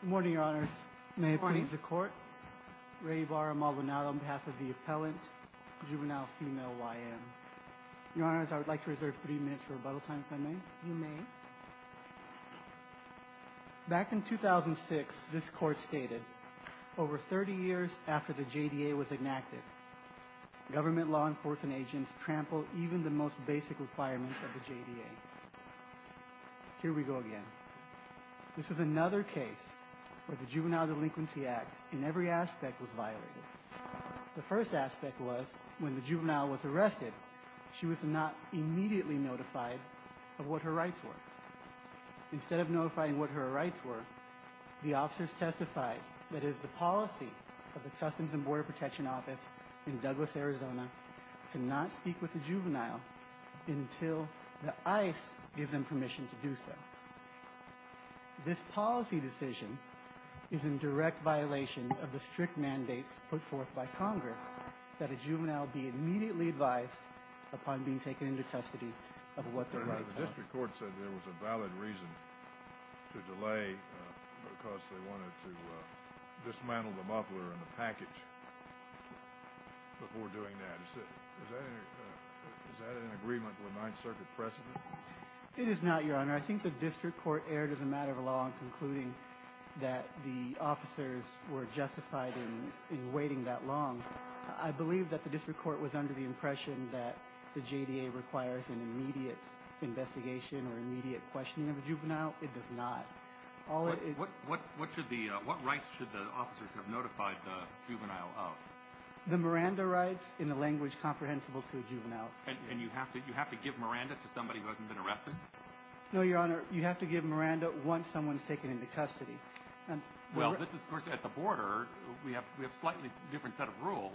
Good morning, Your Honors. May it please the Court, Rayvara Malvinado on behalf of the appellant, Juvenile Female YM. Your Honors, I would like to reserve 30 minutes for rebuttal time, if I may. You may. Back in 2006, this Court stated, over 30 years after the JDA was enacted, government law enforcement agents trampled even the most basic requirements of the JDA. Here we go again. This is another case where the Juvenile Delinquency Act, in every aspect, was violated. The first aspect was, when the juvenile was arrested, she was not immediately notified of what her rights were. Instead of notifying what her rights were, the officers testified that it is the policy of the Customs and Border Protection Office in Douglas, Arizona, to not speak with the juvenile until the ICE gives them permission to do so. This policy decision is in direct violation of the strict mandates put forth by Congress that a juvenile be immediately advised upon being taken into custody of what their rights are. The District Court said there was a valid reason to delay because they wanted to dismantle the muffler and the package before doing that. Is that in agreement with Ninth Circuit precedent? It is not, Your Honor. I think the District Court erred as a matter of law in concluding that the officers were justified in waiting that long. I believe that the District Court was under the impression that the JDA requires an immediate investigation or immediate questioning of a juvenile. It does not. What rights should the officers have notified the juvenile of? The Miranda rights, in a language comprehensible to a juvenile. And you have to give Miranda to somebody who hasn't been arrested? No, Your Honor. You have to give Miranda once someone is taken into custody. Well, this is, of course, at the border. We have slightly different set of rules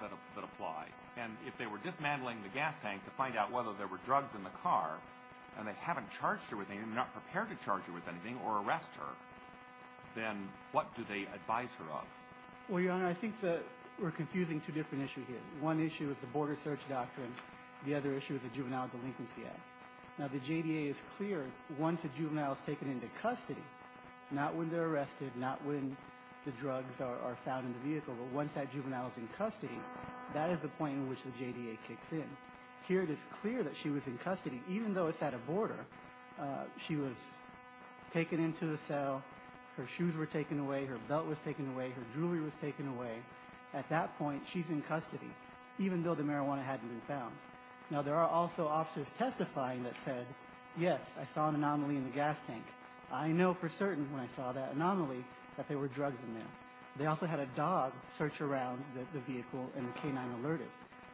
that apply. And if they were dismantling the gas tank to find out whether there were drugs in the car and they haven't charged her with anything, they're not prepared to charge her with anything or arrest her, then what do they advise her of? Well, Your Honor, I think we're confusing two different issues here. One issue is the border search doctrine. The other issue is the Juvenile Delinquency Act. Now, the JDA is clear, once a juvenile is taken into custody, not when they're arrested, not when the drugs are found in the vehicle, but once that juvenile is in custody, that is the point in which the JDA kicks in. Here it is clear that she was in custody, even though it's at a border. She was taken into the cell, her shoes were taken away, her belt was taken away, her jewelry was taken away. At that point, she's in custody, even though the marijuana hadn't been found. Now, there are also officers testifying that said, yes, I saw an anomaly in the gas tank. I know for certain when I saw that anomaly that there were drugs in there. They also had a dog search around the vehicle and the canine alerted.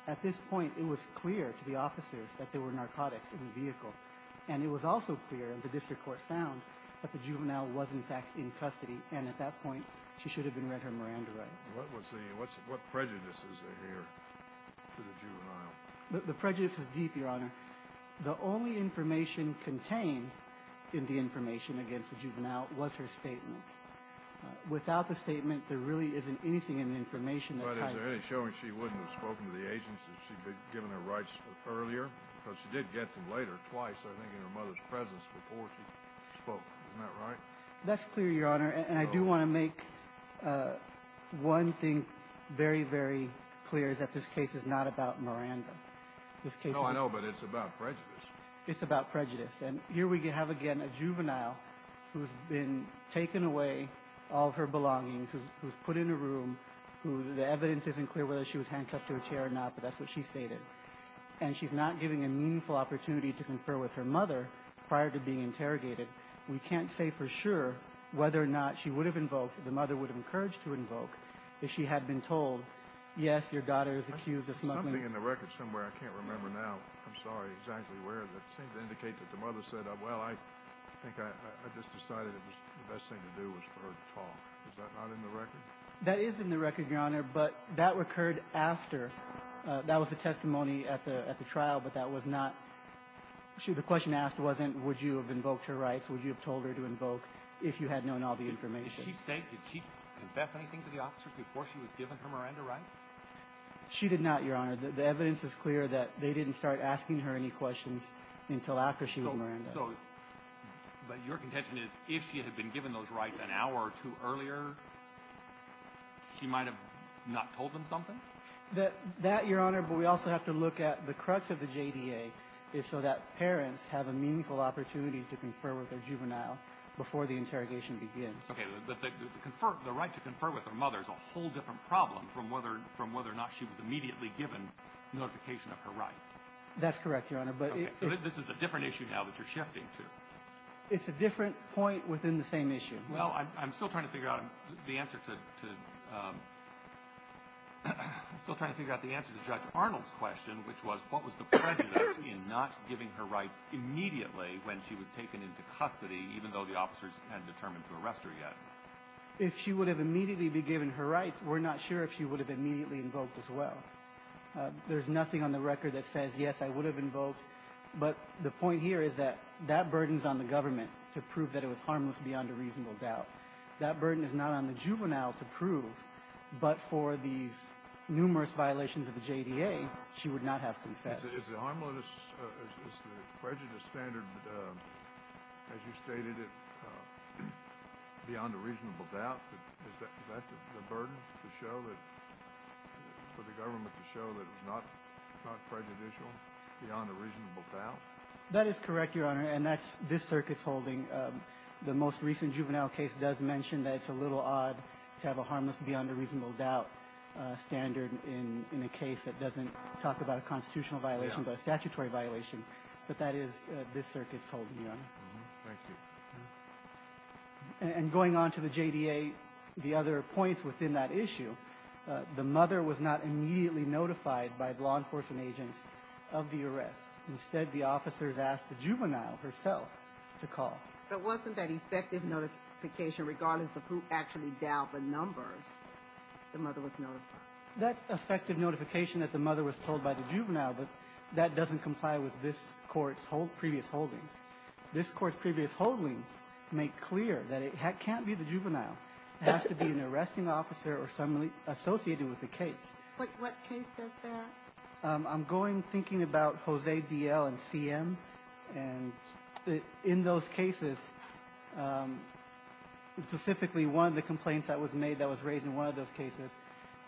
At this point, it was clear to the officers that there were narcotics in the vehicle. And it was also clear, and the district court found, that the juvenile was, in fact, in custody. And at that point, she should have been read her Miranda rights. What prejudices adhere to the juvenile? The prejudice is deep, Your Honor. The only information contained in the information against the juvenile was her statement. Without the statement, there really isn't anything in the information that ties it. But is there any showing she wouldn't have spoken to the agents if she'd been given her rights earlier? Because she did get them later, twice, I think, in her mother's presence before she spoke. Isn't that right? That's clear, Your Honor, and I do want to make one thing very, very clear, is that this case is not about Miranda. No, I know, but it's about prejudice. It's about prejudice. And here we have again a juvenile who's been taken away all of her belongings, who's put in a room, who the evidence isn't clear whether she was handcuffed to a chair or not, but that's what she stated. And she's not given a meaningful opportunity to confer with her mother prior to being interrogated. We can't say for sure whether or not she would have invoked, the mother would have encouraged to invoke, if she had been told, yes, your daughter is accused of smuggling. There's something in the record somewhere. I can't remember now. I'm sorry. Exactly where is it? It seemed to indicate that the mother said, well, I think I just decided the best thing to do was for her to talk. Is that not in the record? That is in the record, Your Honor, but that occurred after. That was the testimony at the trial, but that was not – the question asked wasn't would you have invoked her rights? Would you have told her to invoke if you had known all the information? Did she say – did she confess anything to the officers before she was given her Miranda rights? She did not, Your Honor. The evidence is clear that they didn't start asking her any questions until after she was Miranda's. So – but your contention is if she had been given those rights an hour or two earlier, she might have not told them something? That, Your Honor, but we also have to look at the crux of the JDA is so that parents have a meaningful opportunity to confer with their juvenile before the interrogation begins. Okay. But the right to confer with their mother is a whole different problem from whether or not she was immediately given notification of her rights. That's correct, Your Honor, but it – Okay. So this is a different issue now that you're shifting to. It's a different point within the same issue. Well, I'm still trying to figure out the answer to – still trying to figure out the answer to Judge Arnold's question, which was what was the prejudice in not giving her rights immediately when she was taken into custody, even though the officers hadn't determined to arrest her yet? If she would have immediately been given her rights, we're not sure if she would have immediately invoked as well. There's nothing on the record that says, yes, I would have invoked. But the point here is that that burden's on the government to prove that it was harmless beyond a reasonable doubt. That burden is not on the juvenile to prove, but for these numerous violations of the JDA, she would not have confessed. Is the harmless – is the prejudice standard, as you stated, beyond a reasonable doubt? Is that the burden to show that – for the government to show that it was not prejudicial beyond a reasonable doubt? That is correct, Your Honor, and that's this circuit's holding. The most recent juvenile case does mention that it's a little odd to have a harmless beyond a reasonable doubt standard in a case that doesn't talk about a constitutional violation but a statutory violation. But that is this circuit's holding, Your Honor. Thank you. And going on to the JDA, the other points within that issue, the mother was not immediately notified by law enforcement agents of the arrest. Instead, the officers asked the juvenile herself to call. But wasn't that effective notification, regardless of who actually dialed the numbers, the mother was notified? That's effective notification that the mother was told by the juvenile, but that doesn't comply with this court's previous holdings. This court's previous holdings make clear that it can't be the juvenile. It has to be an arresting officer or someone associated with the case. What case says that? I'm going thinking about Jose D.L. and C.M., and in those cases, specifically one of the complaints that was made that was raised in one of those cases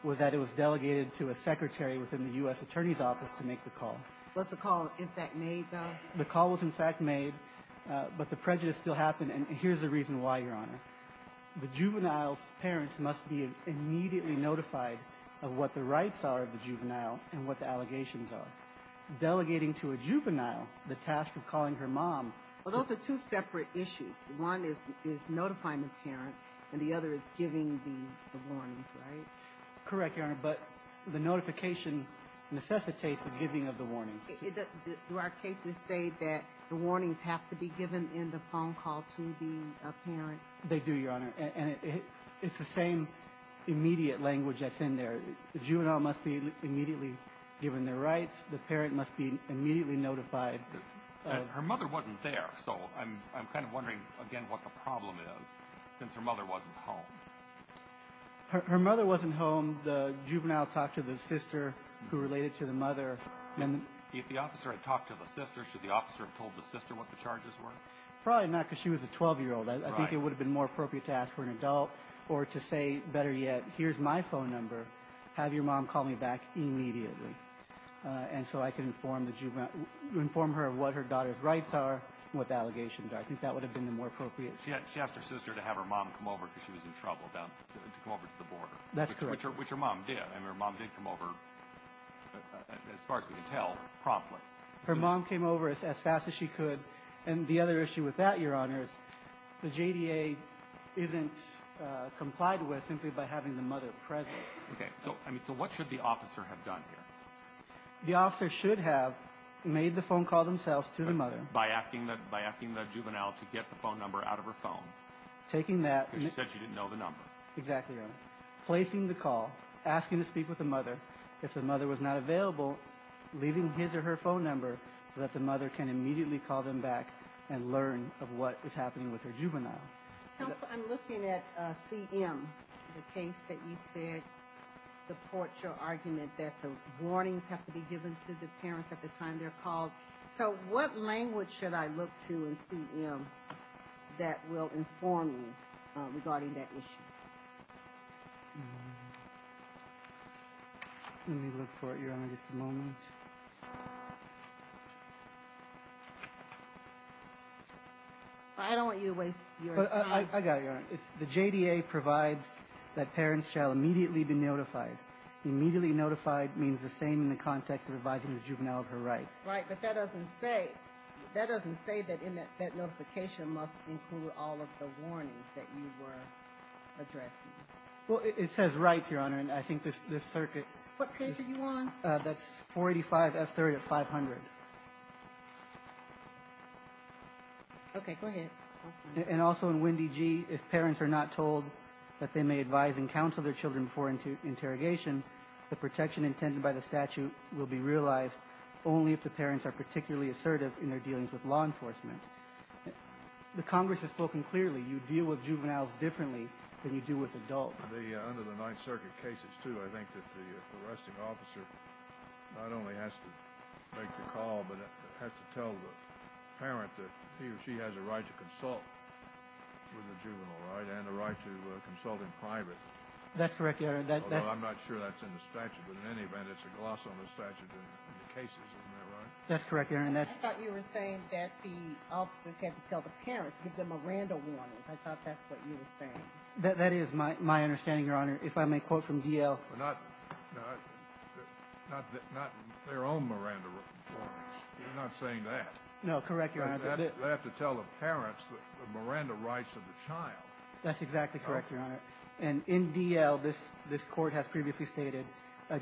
was that it was delegated to a secretary within the U.S. Attorney's Office to make the call. Was the call, in fact, made, though? The call was, in fact, made, but the prejudice still happened, and here's the reason why, Your Honor. The juvenile's parents must be immediately notified of what the rights are of the child and what the allegations are. Delegating to a juvenile the task of calling her mom. Well, those are two separate issues. One is notifying the parent, and the other is giving the warnings, right? Correct, Your Honor, but the notification necessitates the giving of the warnings. Do our cases say that the warnings have to be given in the phone call to the parent? They do, Your Honor, and it's the same immediate language that's in there. The juvenile must be immediately given their rights. The parent must be immediately notified. Her mother wasn't there, so I'm kind of wondering, again, what the problem is, since her mother wasn't home. Her mother wasn't home. The juvenile talked to the sister who related to the mother. If the officer had talked to the sister, should the officer have told the sister what the charges were? Probably not, because she was a 12-year-old. I think it would have been more appropriate to ask for an adult or to say, better yet, here's my phone number, have your mom call me back immediately, and so I can inform her of what her daughter's rights are and what the allegations are. I think that would have been more appropriate. She asked her sister to have her mom come over because she was in trouble to come over to the border. That's correct. Which her mom did, and her mom did come over, as far as we can tell, promptly. Her mom came over as fast as she could, and the other issue with that, Your Honor, is the JDA isn't complied with simply by having the mother present. Okay. So what should the officer have done here? The officer should have made the phone call themselves to the mother. By asking the juvenile to get the phone number out of her phone. Taking that. Because she said she didn't know the number. Exactly, Your Honor. Placing the call, asking to speak with the mother. If the mother was not available, leaving his or her phone number so that the mother can immediately call them back and learn of what is happening with her juvenile. Counsel, I'm looking at CM, the case that you said supports your argument that the warnings have to be given to the parents at the time they're called. So what language should I look to in CM that will inform me regarding that issue? Let me look for it, Your Honor, just a moment. I don't want you to waste your time. I got it, Your Honor. The JDA provides that parents shall immediately be notified. Immediately notified means the same in the context of advising the juvenile of her rights. Right, but that doesn't say that notification must include all of the warnings that you were addressing. Well, it says rights, Your Honor, and I think this circuit. What page are you on? That's 485F30 of 500. Okay, go ahead. And also in WNDG, if parents are not told that they may advise and counsel their children before interrogation, the protection intended by the statute will be realized only if the parents are particularly assertive in their dealings with law enforcement. The Congress has spoken clearly. You deal with juveniles differently than you do with adults. Under the Ninth Circuit cases, too, I think that the arresting officer not only has to make the call, but has to tell the parent that he or she has a right to consult with the juvenile, right, and a right to consult in private. That's correct, Your Honor. Although I'm not sure that's in the statute, but in any event, it's a gloss on the statute in the cases. Isn't that right? That's correct, Your Honor. I thought you were saying that the officers had to tell the parents, the Miranda warnings. I thought that's what you were saying. That is my understanding, Your Honor. If I may quote from D.L. Not their own Miranda warnings. You're not saying that. No, correct, Your Honor. They have to tell the parents the Miranda rights of the child. That's exactly correct, Your Honor. And in D.L., this Court has previously stated,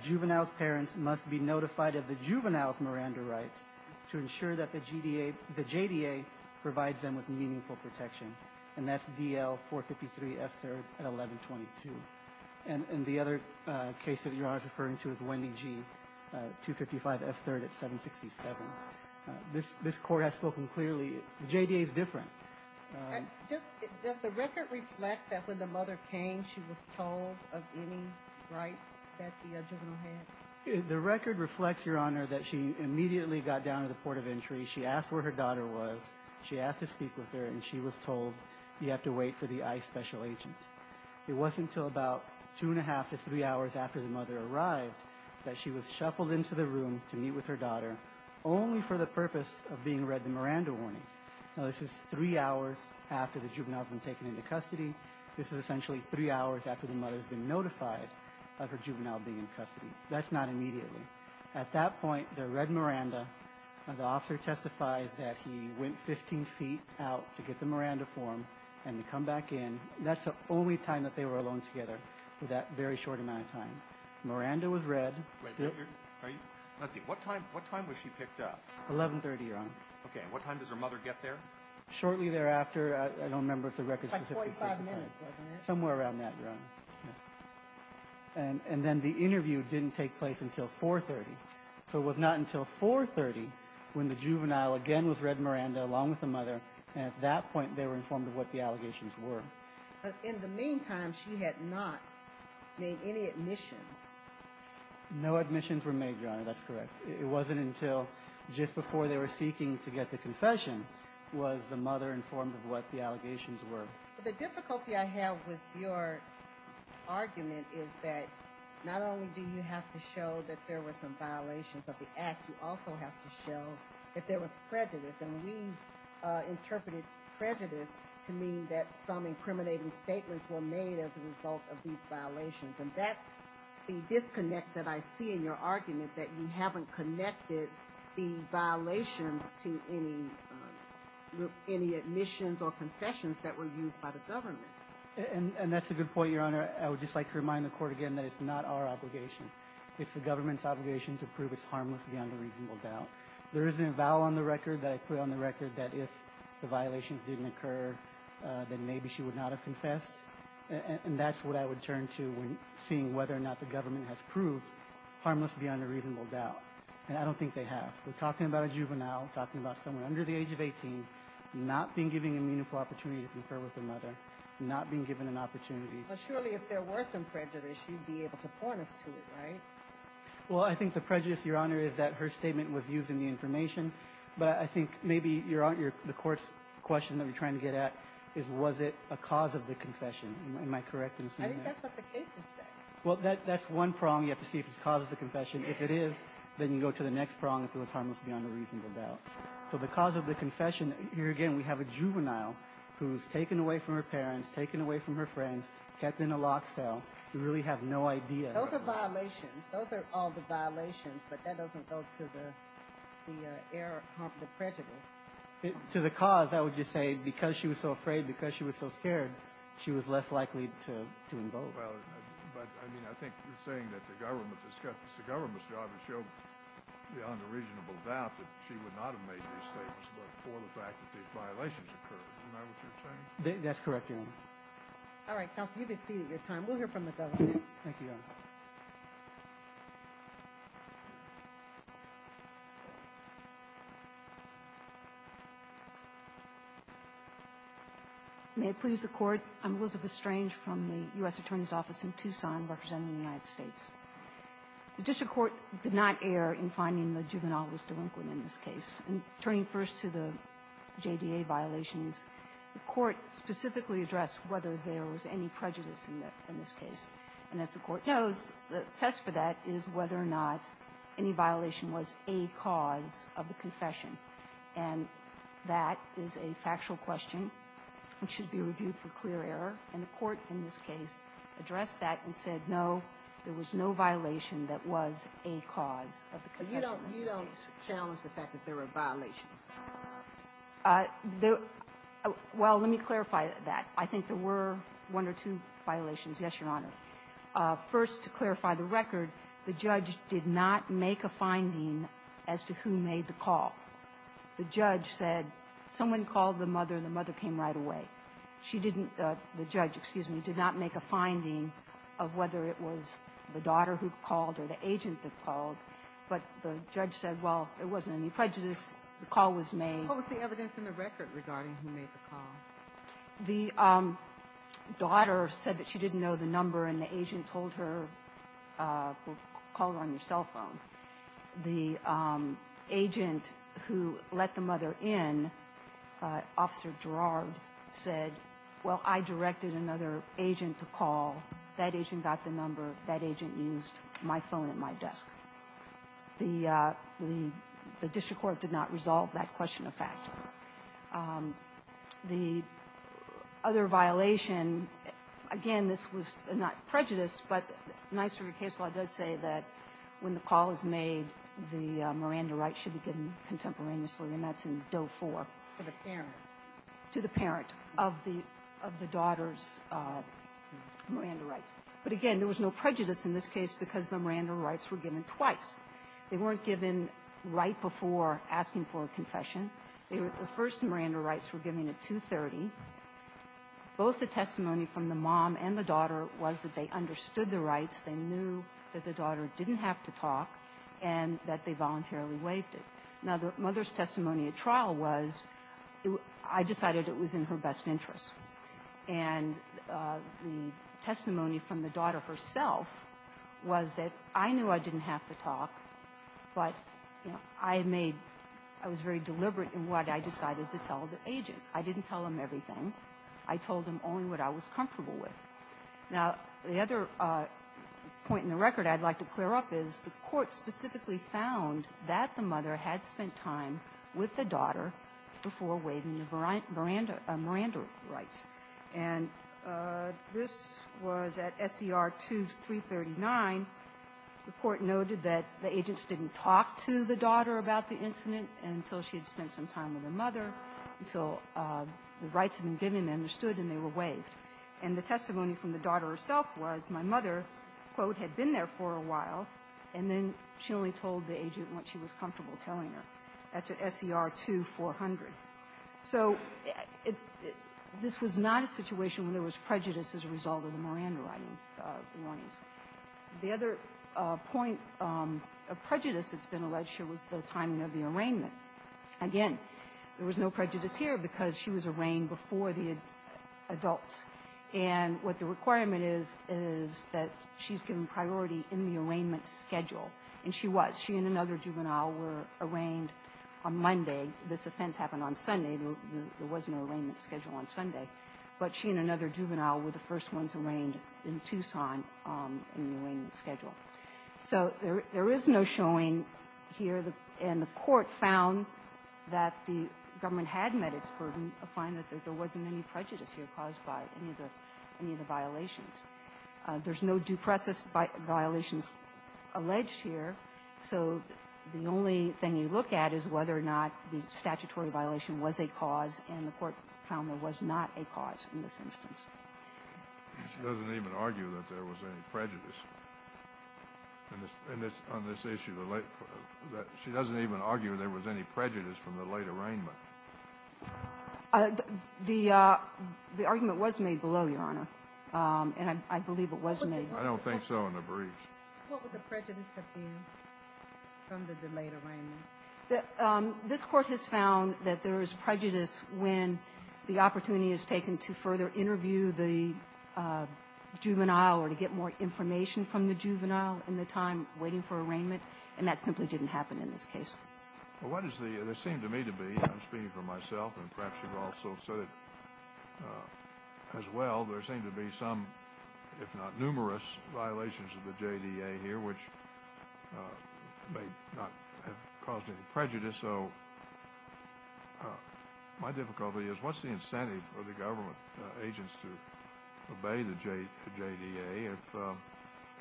juvenile's parents must be notified of the juvenile's Miranda rights to ensure that the JDA provides them with meaningful protection. And that's D.L. 453 F3rd at 1122. And the other case that you're referring to is Wendy G. 255 F3rd at 767. This Court has spoken clearly. The JDA is different. Does the record reflect that when the mother came, she was told of any rights that the juvenile had? The record reflects, Your Honor, that she immediately got down to the port of entry. She asked where her daughter was. She asked to speak with her, and she was told, you have to wait for the ICE special agent. It wasn't until about two and a half to three hours after the mother arrived that she was shuffled into the room to meet with her daughter, only for the purpose of being read the Miranda warnings. Now, this is three hours after the juvenile's been taken into custody. This is essentially three hours after the mother's been notified of her juvenile being in custody. That's not immediately. At that point, they're read Miranda, and the officer testifies that he went 15 feet out to get the Miranda form and to come back in. That's the only time that they were alone together for that very short amount of time. Miranda was read. Are you? What time was she picked up? 1130, Your Honor. Okay. What time does her mother get there? Shortly thereafter. I don't remember if the record specifies. It's like 45 minutes, wasn't it? Somewhere around that, Your Honor. And then the interview didn't take place until 430. So it was not until 430 when the juvenile again was read Miranda along with the mother, and at that point they were informed of what the allegations were. In the meantime, she had not made any admissions. No admissions were made, Your Honor. That's correct. It wasn't until just before they were seeking to get the confession was the mother informed of what the allegations were. The difficulty I have with your argument is that not only do you have to show that there were some violations of the act, you also have to show that there was prejudice, and we interpreted prejudice to mean that some incriminating statements were made as a result of these violations, and that's the disconnect that I see in your argument, that you haven't connected the violations to any admissions or confessions that were used by the government. And that's a good point, Your Honor. I would just like to remind the Court again that it's not our obligation. It's the government's obligation to prove it's harmless beyond a reasonable doubt. There isn't a vow on the record that I put on the record that if the violations didn't occur, then maybe she would not have confessed, and that's what I would turn to when seeing whether or not the government has proved harmless beyond a reasonable doubt, and I don't think they have. We're talking about a juvenile, talking about someone under the age of 18, not being given a meaningful opportunity to confer with their mother, not being given an opportunity. But surely if there were some prejudice, you'd be able to point us to it, right? Well, I think the prejudice, Your Honor, is that her statement was using the information, but I think maybe the Court's question that we're trying to get at is was it a cause of the confession. Am I correct in assuming that? I think that's what the case is saying. Well, that's one prong. You have to see if it's a cause of the confession. If it is, then you go to the next prong, if it was harmless beyond a reasonable doubt. So the cause of the confession, here again we have a juvenile who's taken away from her parents, taken away from her friends, kept in a locked cell. We really have no idea. Those are violations. Those are all the violations, but that doesn't go to the prejudice. To the cause, I would just say because she was so afraid, because she was so scared, she was less likely to invoke. But, I mean, I think you're saying that the government's job is to show beyond a reasonable doubt that she would not have made these statements before the fact that these violations occurred. Isn't that what you're saying? That's correct, Your Honor. All right, counsel, you've exceeded your time. We'll hear from the government. Thank you, Your Honor. May it please the Court. I'm Elizabeth Strange from the U.S. Attorney's Office in Tucson representing the United States. The district court did not err in finding the juvenile was delinquent in this case. And turning first to the JDA violations, the court specifically addressed whether there was any prejudice in this case. And as the Court knows, the test for that is whether or not any violation was a cause of the confession. And that is a factual question which should be reviewed for clear error. And the Court in this case addressed that and said, no, there was no violation that was a cause of the confession. But you don't challenge the fact that there were violations? Well, let me clarify that. I think there were one or two violations, yes, Your Honor. First, to clarify the record, the judge did not make a finding as to who made the call. The judge said someone called the mother and the mother came right away. She didn't the judge, excuse me, did not make a finding of whether it was the daughter who called or the agent that called, but the judge said, well, there wasn't any prejudice. The call was made. What was the evidence in the record regarding who made the call? The daughter said that she didn't know the number, and the agent told her, well, call her on your cell phone. The agent who let the mother in, Officer Girard, said, well, I directed another agent to call. That agent got the number. That agent used my phone and my desk. The district court did not resolve that question of fact. The other violation, again, this was not prejudice, but NYSERDA case law does say that when the call is made, the Miranda rights should be given contemporaneously, and that's in Doe 4. To the parent. To the parent of the daughter's Miranda rights. But, again, there was no prejudice in this case because the Miranda rights were given twice. They weren't given right before asking for a confession. The first Miranda rights were given at 2.30. Both the testimony from the mom and the daughter was that they understood the rights, they knew that the daughter didn't have to talk, and that they voluntarily waived it. Now, the mother's testimony at trial was, I decided it was in her best interest. And the testimony from the daughter herself was that I knew I didn't have to talk, but, you know, I made – I was very deliberate in what I decided to tell the agent. I didn't tell him everything. I told him only what I was comfortable with. Now, the other point in the record I'd like to clear up is the court specifically found that the mother had spent time with the daughter before waiving the Miranda rights. And this was at SCR 2.339. The court noted that the agents didn't talk to the daughter about the incident until she had spent some time with the mother, until the rights had been given, understood, and they were waived. And the testimony from the daughter herself was my mother, quote, had been there for a while, and then she only told the agent what she was comfortable telling her. That's at SCR 2.400. So this was not a situation where there was prejudice as a result of the Miranda writing warnings. The other point of prejudice that's been alleged here was the timing of the arraignment. Again, there was no prejudice here because she was arraigned before the adults. And what the requirement is is that she's given priority in the arraigned on Monday. This offense happened on Sunday. There was no arraignment schedule on Sunday. But she and another juvenile were the first ones arraigned in Tucson in the arraignment schedule. So there is no showing here. And the court found that the government had met its burden to find that there wasn't any prejudice here caused by any of the violations. There's no due process violations alleged here. So the only thing you look at is whether or not the statutory violation was a cause, and the court found there was not a cause in this instance. She doesn't even argue that there was any prejudice on this issue. She doesn't even argue there was any prejudice from the late arraignment. The argument was made below, Your Honor, and I believe it was made below. I don't think so in the brief. What would the prejudice have been from the delayed arraignment? This Court has found that there is prejudice when the opportunity is taken to further interview the juvenile or to get more information from the juvenile in the time waiting for arraignment, and that simply didn't happen in this case. Well, what does the seem to me to be, I'm speaking for myself, and perhaps you've also said it as well, there seemed to be some, if not numerous, violations of the JDA here which may not have caused any prejudice. So my difficulty is what's the incentive for the government agents to obey the JDA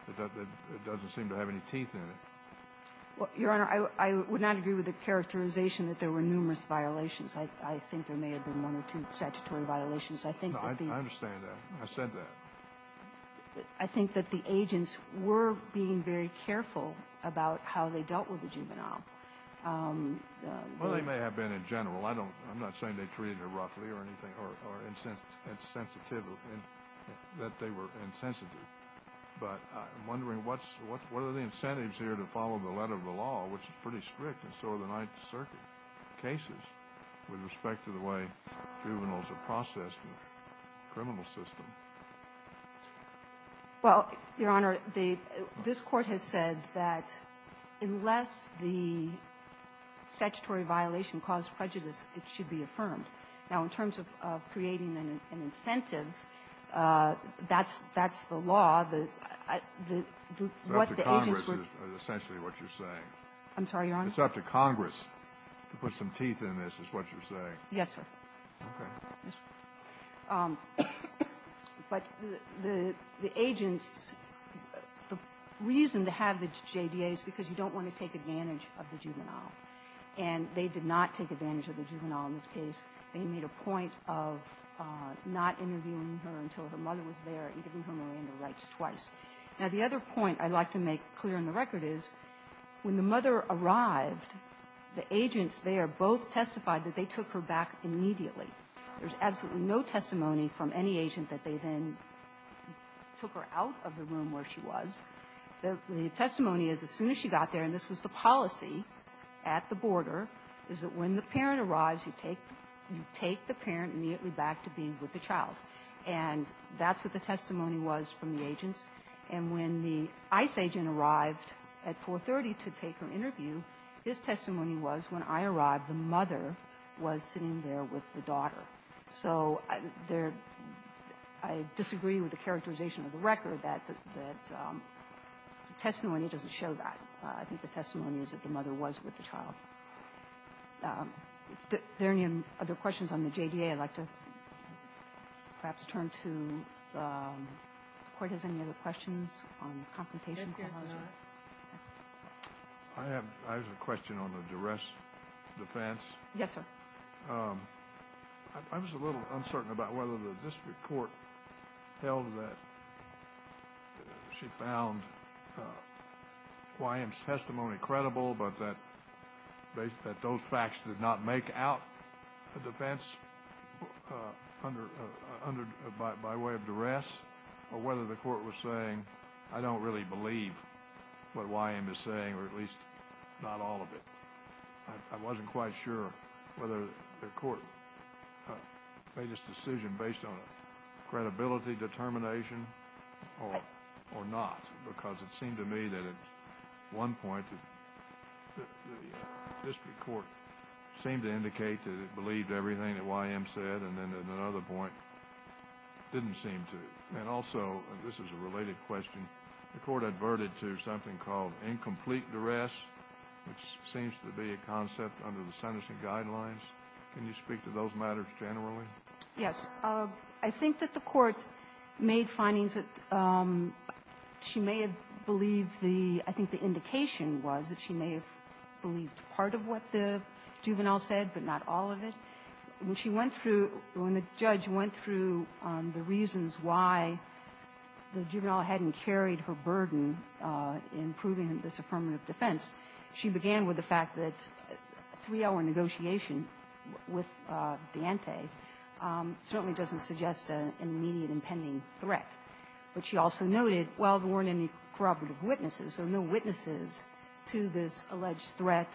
if it doesn't seem to have any teeth in it? Well, Your Honor, I would not agree with the characterization that there were numerous violations. I think there may have been one or two statutory violations. I think that the ---- No, I understand that. I said that. I think that the agents were being very careful about how they dealt with the juvenile. Well, they may have been in general. I don't ---- I'm not saying they treated her roughly or anything or insensitive ---- that they were insensitive. But I'm wondering what's ---- what are the incentives here to follow the letter of the cases with respect to the way juveniles are processed in the criminal system? Well, Your Honor, the ---- this Court has said that unless the statutory violation caused prejudice, it should be affirmed. Now, in terms of creating an incentive, that's the law. The ---- It's up to Congress is essentially what you're saying. I'm sorry, Your Honor. I mean, it's up to Congress to put some teeth in this is what you're saying. Yes, sir. Okay. Yes, sir. But the agents ---- the reason to have the JDA is because you don't want to take advantage of the juvenile. And they did not take advantage of the juvenile in this case. They made a point of not interviewing her until her mother was there and giving her Miranda rights twice. Now, the other point I'd like to make clear on the record is when the mother arrived, the agents there both testified that they took her back immediately. There's absolutely no testimony from any agent that they then took her out of the room where she was. The testimony is as soon as she got there, and this was the policy at the border, is that when the parent arrives, you take the parent immediately back to be with the child. And that's what the testimony was from the agents. And when the ICE agent arrived at 430 to take her interview, his testimony was when I arrived, the mother was sitting there with the daughter. So there ---- I disagree with the characterization of the record that the testimony doesn't show that. I think the testimony is that the mother was with the child. If there are any other questions on the JDA, I'd like to perhaps turn to the Court. Does the Court have any other questions on the confrontation? I have a question on the duress defense. Yes, sir. I was a little uncertain about whether the district court held that she found Guayam's testimony credible, but that those facts did not make out a defense by way of duress, or whether the Court was saying, I don't really believe what Guayam is saying, or at least not all of it. I wasn't quite sure whether the Court made this decision based on credibility, determination, or not. Because it seemed to me that at one point the district court seemed to indicate that it believed everything that Guayam said, and then at another point didn't seem to. And also, this is a related question, the Court adverted to something called incomplete duress, which seems to be a concept under the sentencing guidelines. Can you speak to those matters generally? Yes. I think that the Court made findings that she may have believed the – I think the indication was that she may have believed part of what the juvenile said, but not all of it. When she went through – when the judge went through the reasons why the juvenile hadn't carried her burden in proving this affirmative defense, she began with the fact that a three-hour negotiation with D'Ante certainly doesn't suggest an immediate impending threat. But she also noted, well, there weren't any corroborative witnesses. There were no witnesses to this alleged threat.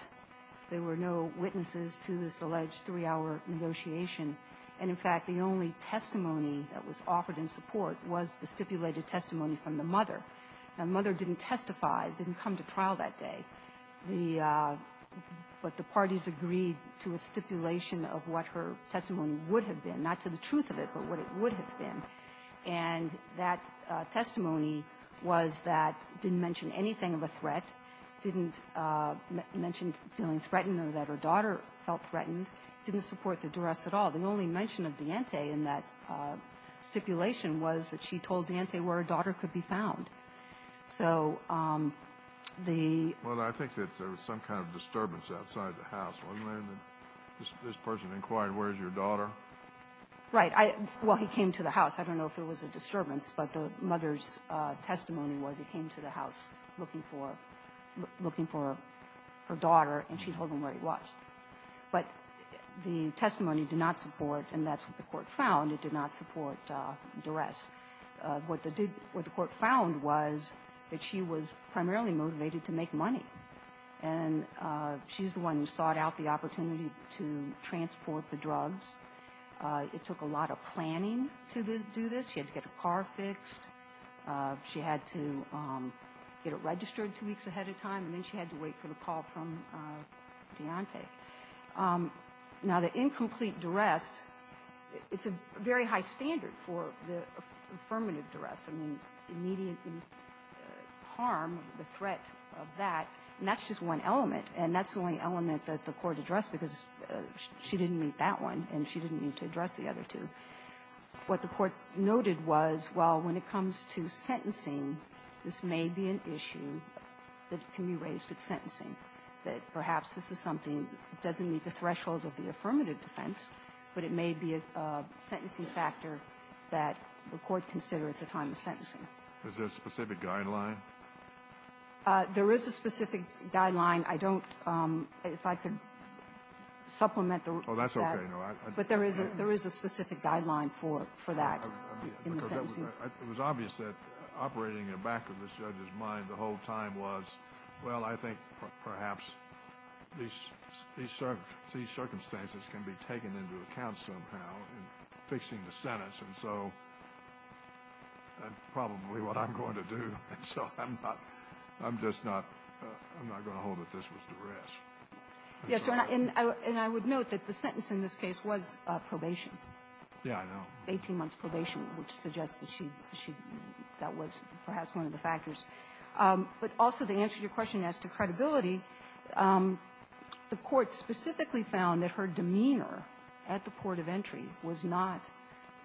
There were no witnesses to this alleged three-hour negotiation. And, in fact, the only testimony that was offered in support was the stipulated testimony from the mother. Now, the mother didn't testify, didn't come to trial that day. The – but the parties agreed to a stipulation of what her testimony would have been, not to the truth of it, but what it would have been. And that testimony was that – didn't mention anything of a threat, didn't mention feeling threatened or that her daughter felt threatened, didn't support the duress at all. The only mention of D'Ante in that stipulation was that she told D'Ante where her daughter was. So the – Well, I think that there was some kind of disturbance outside the house, wasn't there, that this person inquired, where's your daughter? Right. I – well, he came to the house. I don't know if it was a disturbance, but the mother's testimony was he came to the house looking for – looking for her daughter, and she told him where he was. But the testimony did not support, and that's what the Court found, it did not support duress. What the – what the Court found was that she was primarily motivated to make money. And she's the one who sought out the opportunity to transport the drugs. It took a lot of planning to do this. She had to get a car fixed. She had to get it registered two weeks ahead of time, and then she had to wait for the call from D'Ante. Now, the incomplete duress, it's a very high standard for the affirmative duress. I mean, immediate harm, the threat of that, and that's just one element, and that's the only element that the Court addressed because she didn't meet that one, and she didn't need to address the other two. What the Court noted was, well, when it comes to sentencing, this may be an issue that can be raised at sentencing, that perhaps this is something that doesn't meet the threshold of the affirmative defense, but it may be a sentencing factor that the Court considered at the time of sentencing. Is there a specific guideline? There is a specific guideline. I don't – if I can supplement that. Oh, that's okay. It was obvious that operating in the back of the judge's mind the whole time was, well, I think perhaps these circumstances can be taken into account somehow in fixing the sentence, and so that's probably what I'm going to do. And so I'm not – I'm just not – I'm not going to hold that this was duress. Yes, Your Honor, and I would note that the sentence in this case was probation. Yes, I know. Eighteen months' probation, which suggests that she – that was perhaps one of the factors. But also, to answer your question as to credibility, the Court specifically found that her demeanor at the port of entry was not –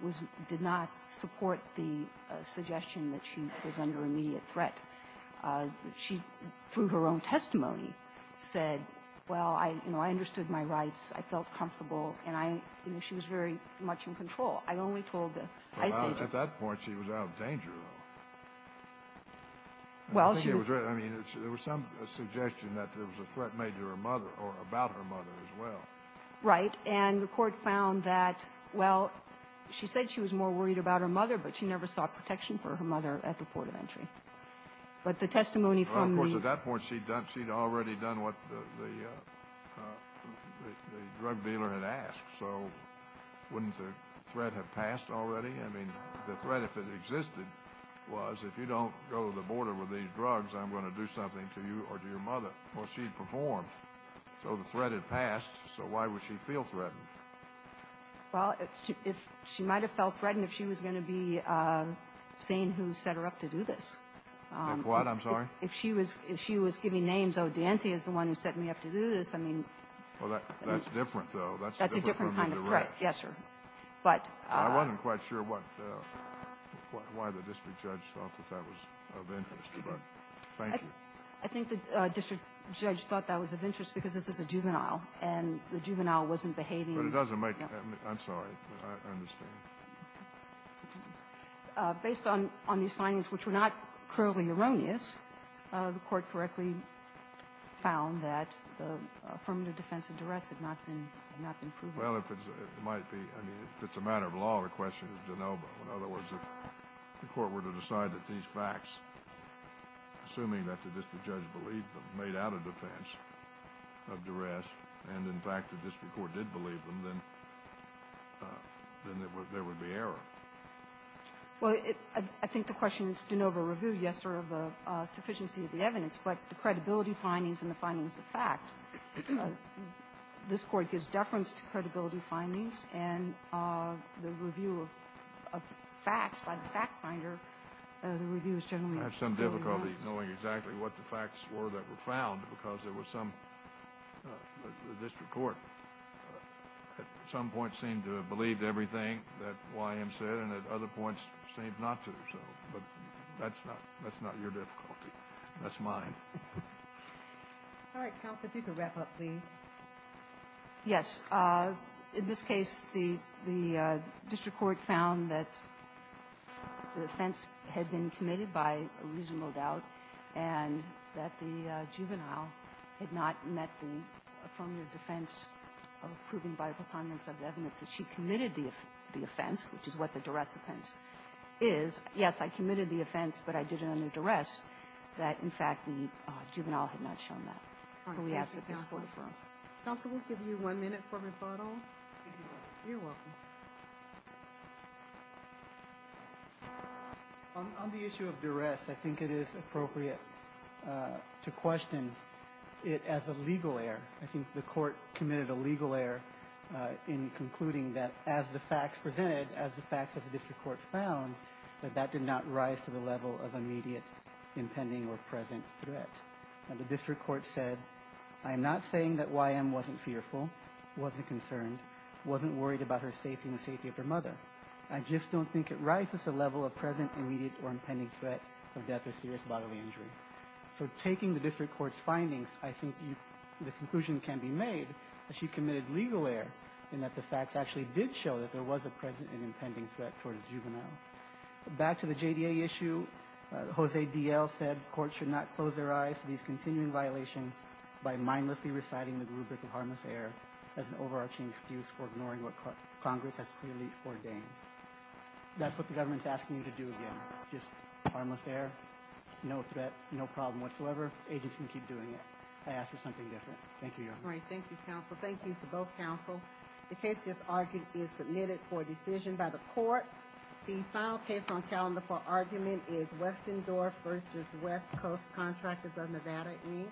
was – did not support the suggestion that she was under immediate threat. She, through her own testimony, said, well, I – you know, I understood my rights. I felt comfortable, and I – you know, I only told the high stage of the case. Well, at that point, she was out of danger, though. Well, she was – I mean, there was some suggestion that there was a threat made to her mother or about her mother as well. Right. And the Court found that, well, she said she was more worried about her mother, but she never sought protection for her mother at the port of entry. But the testimony from the – Well, of course, at that point, she'd done – she'd already done what the – the threat had passed already. I mean, the threat, if it existed, was, if you don't go to the border with these drugs, I'm going to do something to you or to your mother. Well, she'd performed. So the threat had passed. So why would she feel threatened? Well, if – she might have felt threatened if she was going to be seen who set her up to do this. If what? I'm sorry? If she was – if she was giving names, oh, DeAnte is the one who set me up to do this. I mean – Well, that's different, though. That's a different kind of threat. That's a different kind of threat. Yes, sir. But – I wasn't quite sure what – why the district judge thought that that was of interest. But thank you. I think the district judge thought that was of interest because this is a juvenile, and the juvenile wasn't behaving – But it doesn't make – I'm sorry. I understand. Based on – on these findings, which were not clearly erroneous, the Court correctly found that the affirmative defense of duress had not been – had not been proven. Well, if it's – it might be – I mean, if it's a matter of law, the question is de novo. In other words, if the Court were to decide that these facts, assuming that the district judge believed them, made out a defense of duress, and, in fact, the district court did believe them, then – then there would be error. Well, it – I think the question is de novo review, yes, sir, of the sufficiency of the evidence. But the credibility findings and the findings of fact, this Court gives deference to credibility findings, and the review of facts by the fact finder, the review is generally – I have some difficulty knowing exactly what the facts were that were found because there was some – the district court at some point seemed to have believed everything that Y. M. said, and at other points seemed not to. So – but that's not – that's not your difficulty. That's mine. All right. Counsel, if you could wrap up, please. Yes. In this case, the – the district court found that the offense had been committed by a reasonable doubt and that the juvenile had not met the affirmative defense of proving by a preponderance of evidence that she committed the offense, which is what the duress offense is. Yes, I committed the offense, but I did it under duress, that, in fact, the juvenile had not shown that. So we ask that this Court affirm. Counsel, we'll give you one minute for rebuttal. You're welcome. On the issue of duress, I think it is appropriate to question it as a legal error. I think the Court committed a legal error in concluding that as the facts presented, as the facts of the district court found, that that did not rise to the level of immediate, impending, or present threat. And the district court said, I am not saying that Y.M. wasn't fearful, wasn't concerned, wasn't worried about her safety and the safety of her mother. I just don't think it rises to the level of present, immediate, or impending threat of death or serious bodily injury. So taking the district court's findings, I think the conclusion can be made that she committed legal error in that the facts actually did show that there was a present and impending threat towards juveniles. Back to the JDA issue, Jose D.L. said courts should not close their eyes to these continuing violations by mindlessly reciting the rubric of harmless error as an overarching excuse for ignoring what Congress has clearly ordained. That's what the government is asking you to do again. Just harmless error, no threat, no problem whatsoever. Agents can keep doing it. I ask for something different. Thank you, Your Honor. All right. Thank you, Counsel. Thank you to both counsel. The case just argued is submitted for decision by the court. The final case on calendar for argument is Westendorf v. West Coast Contractors of Nevada, Inc.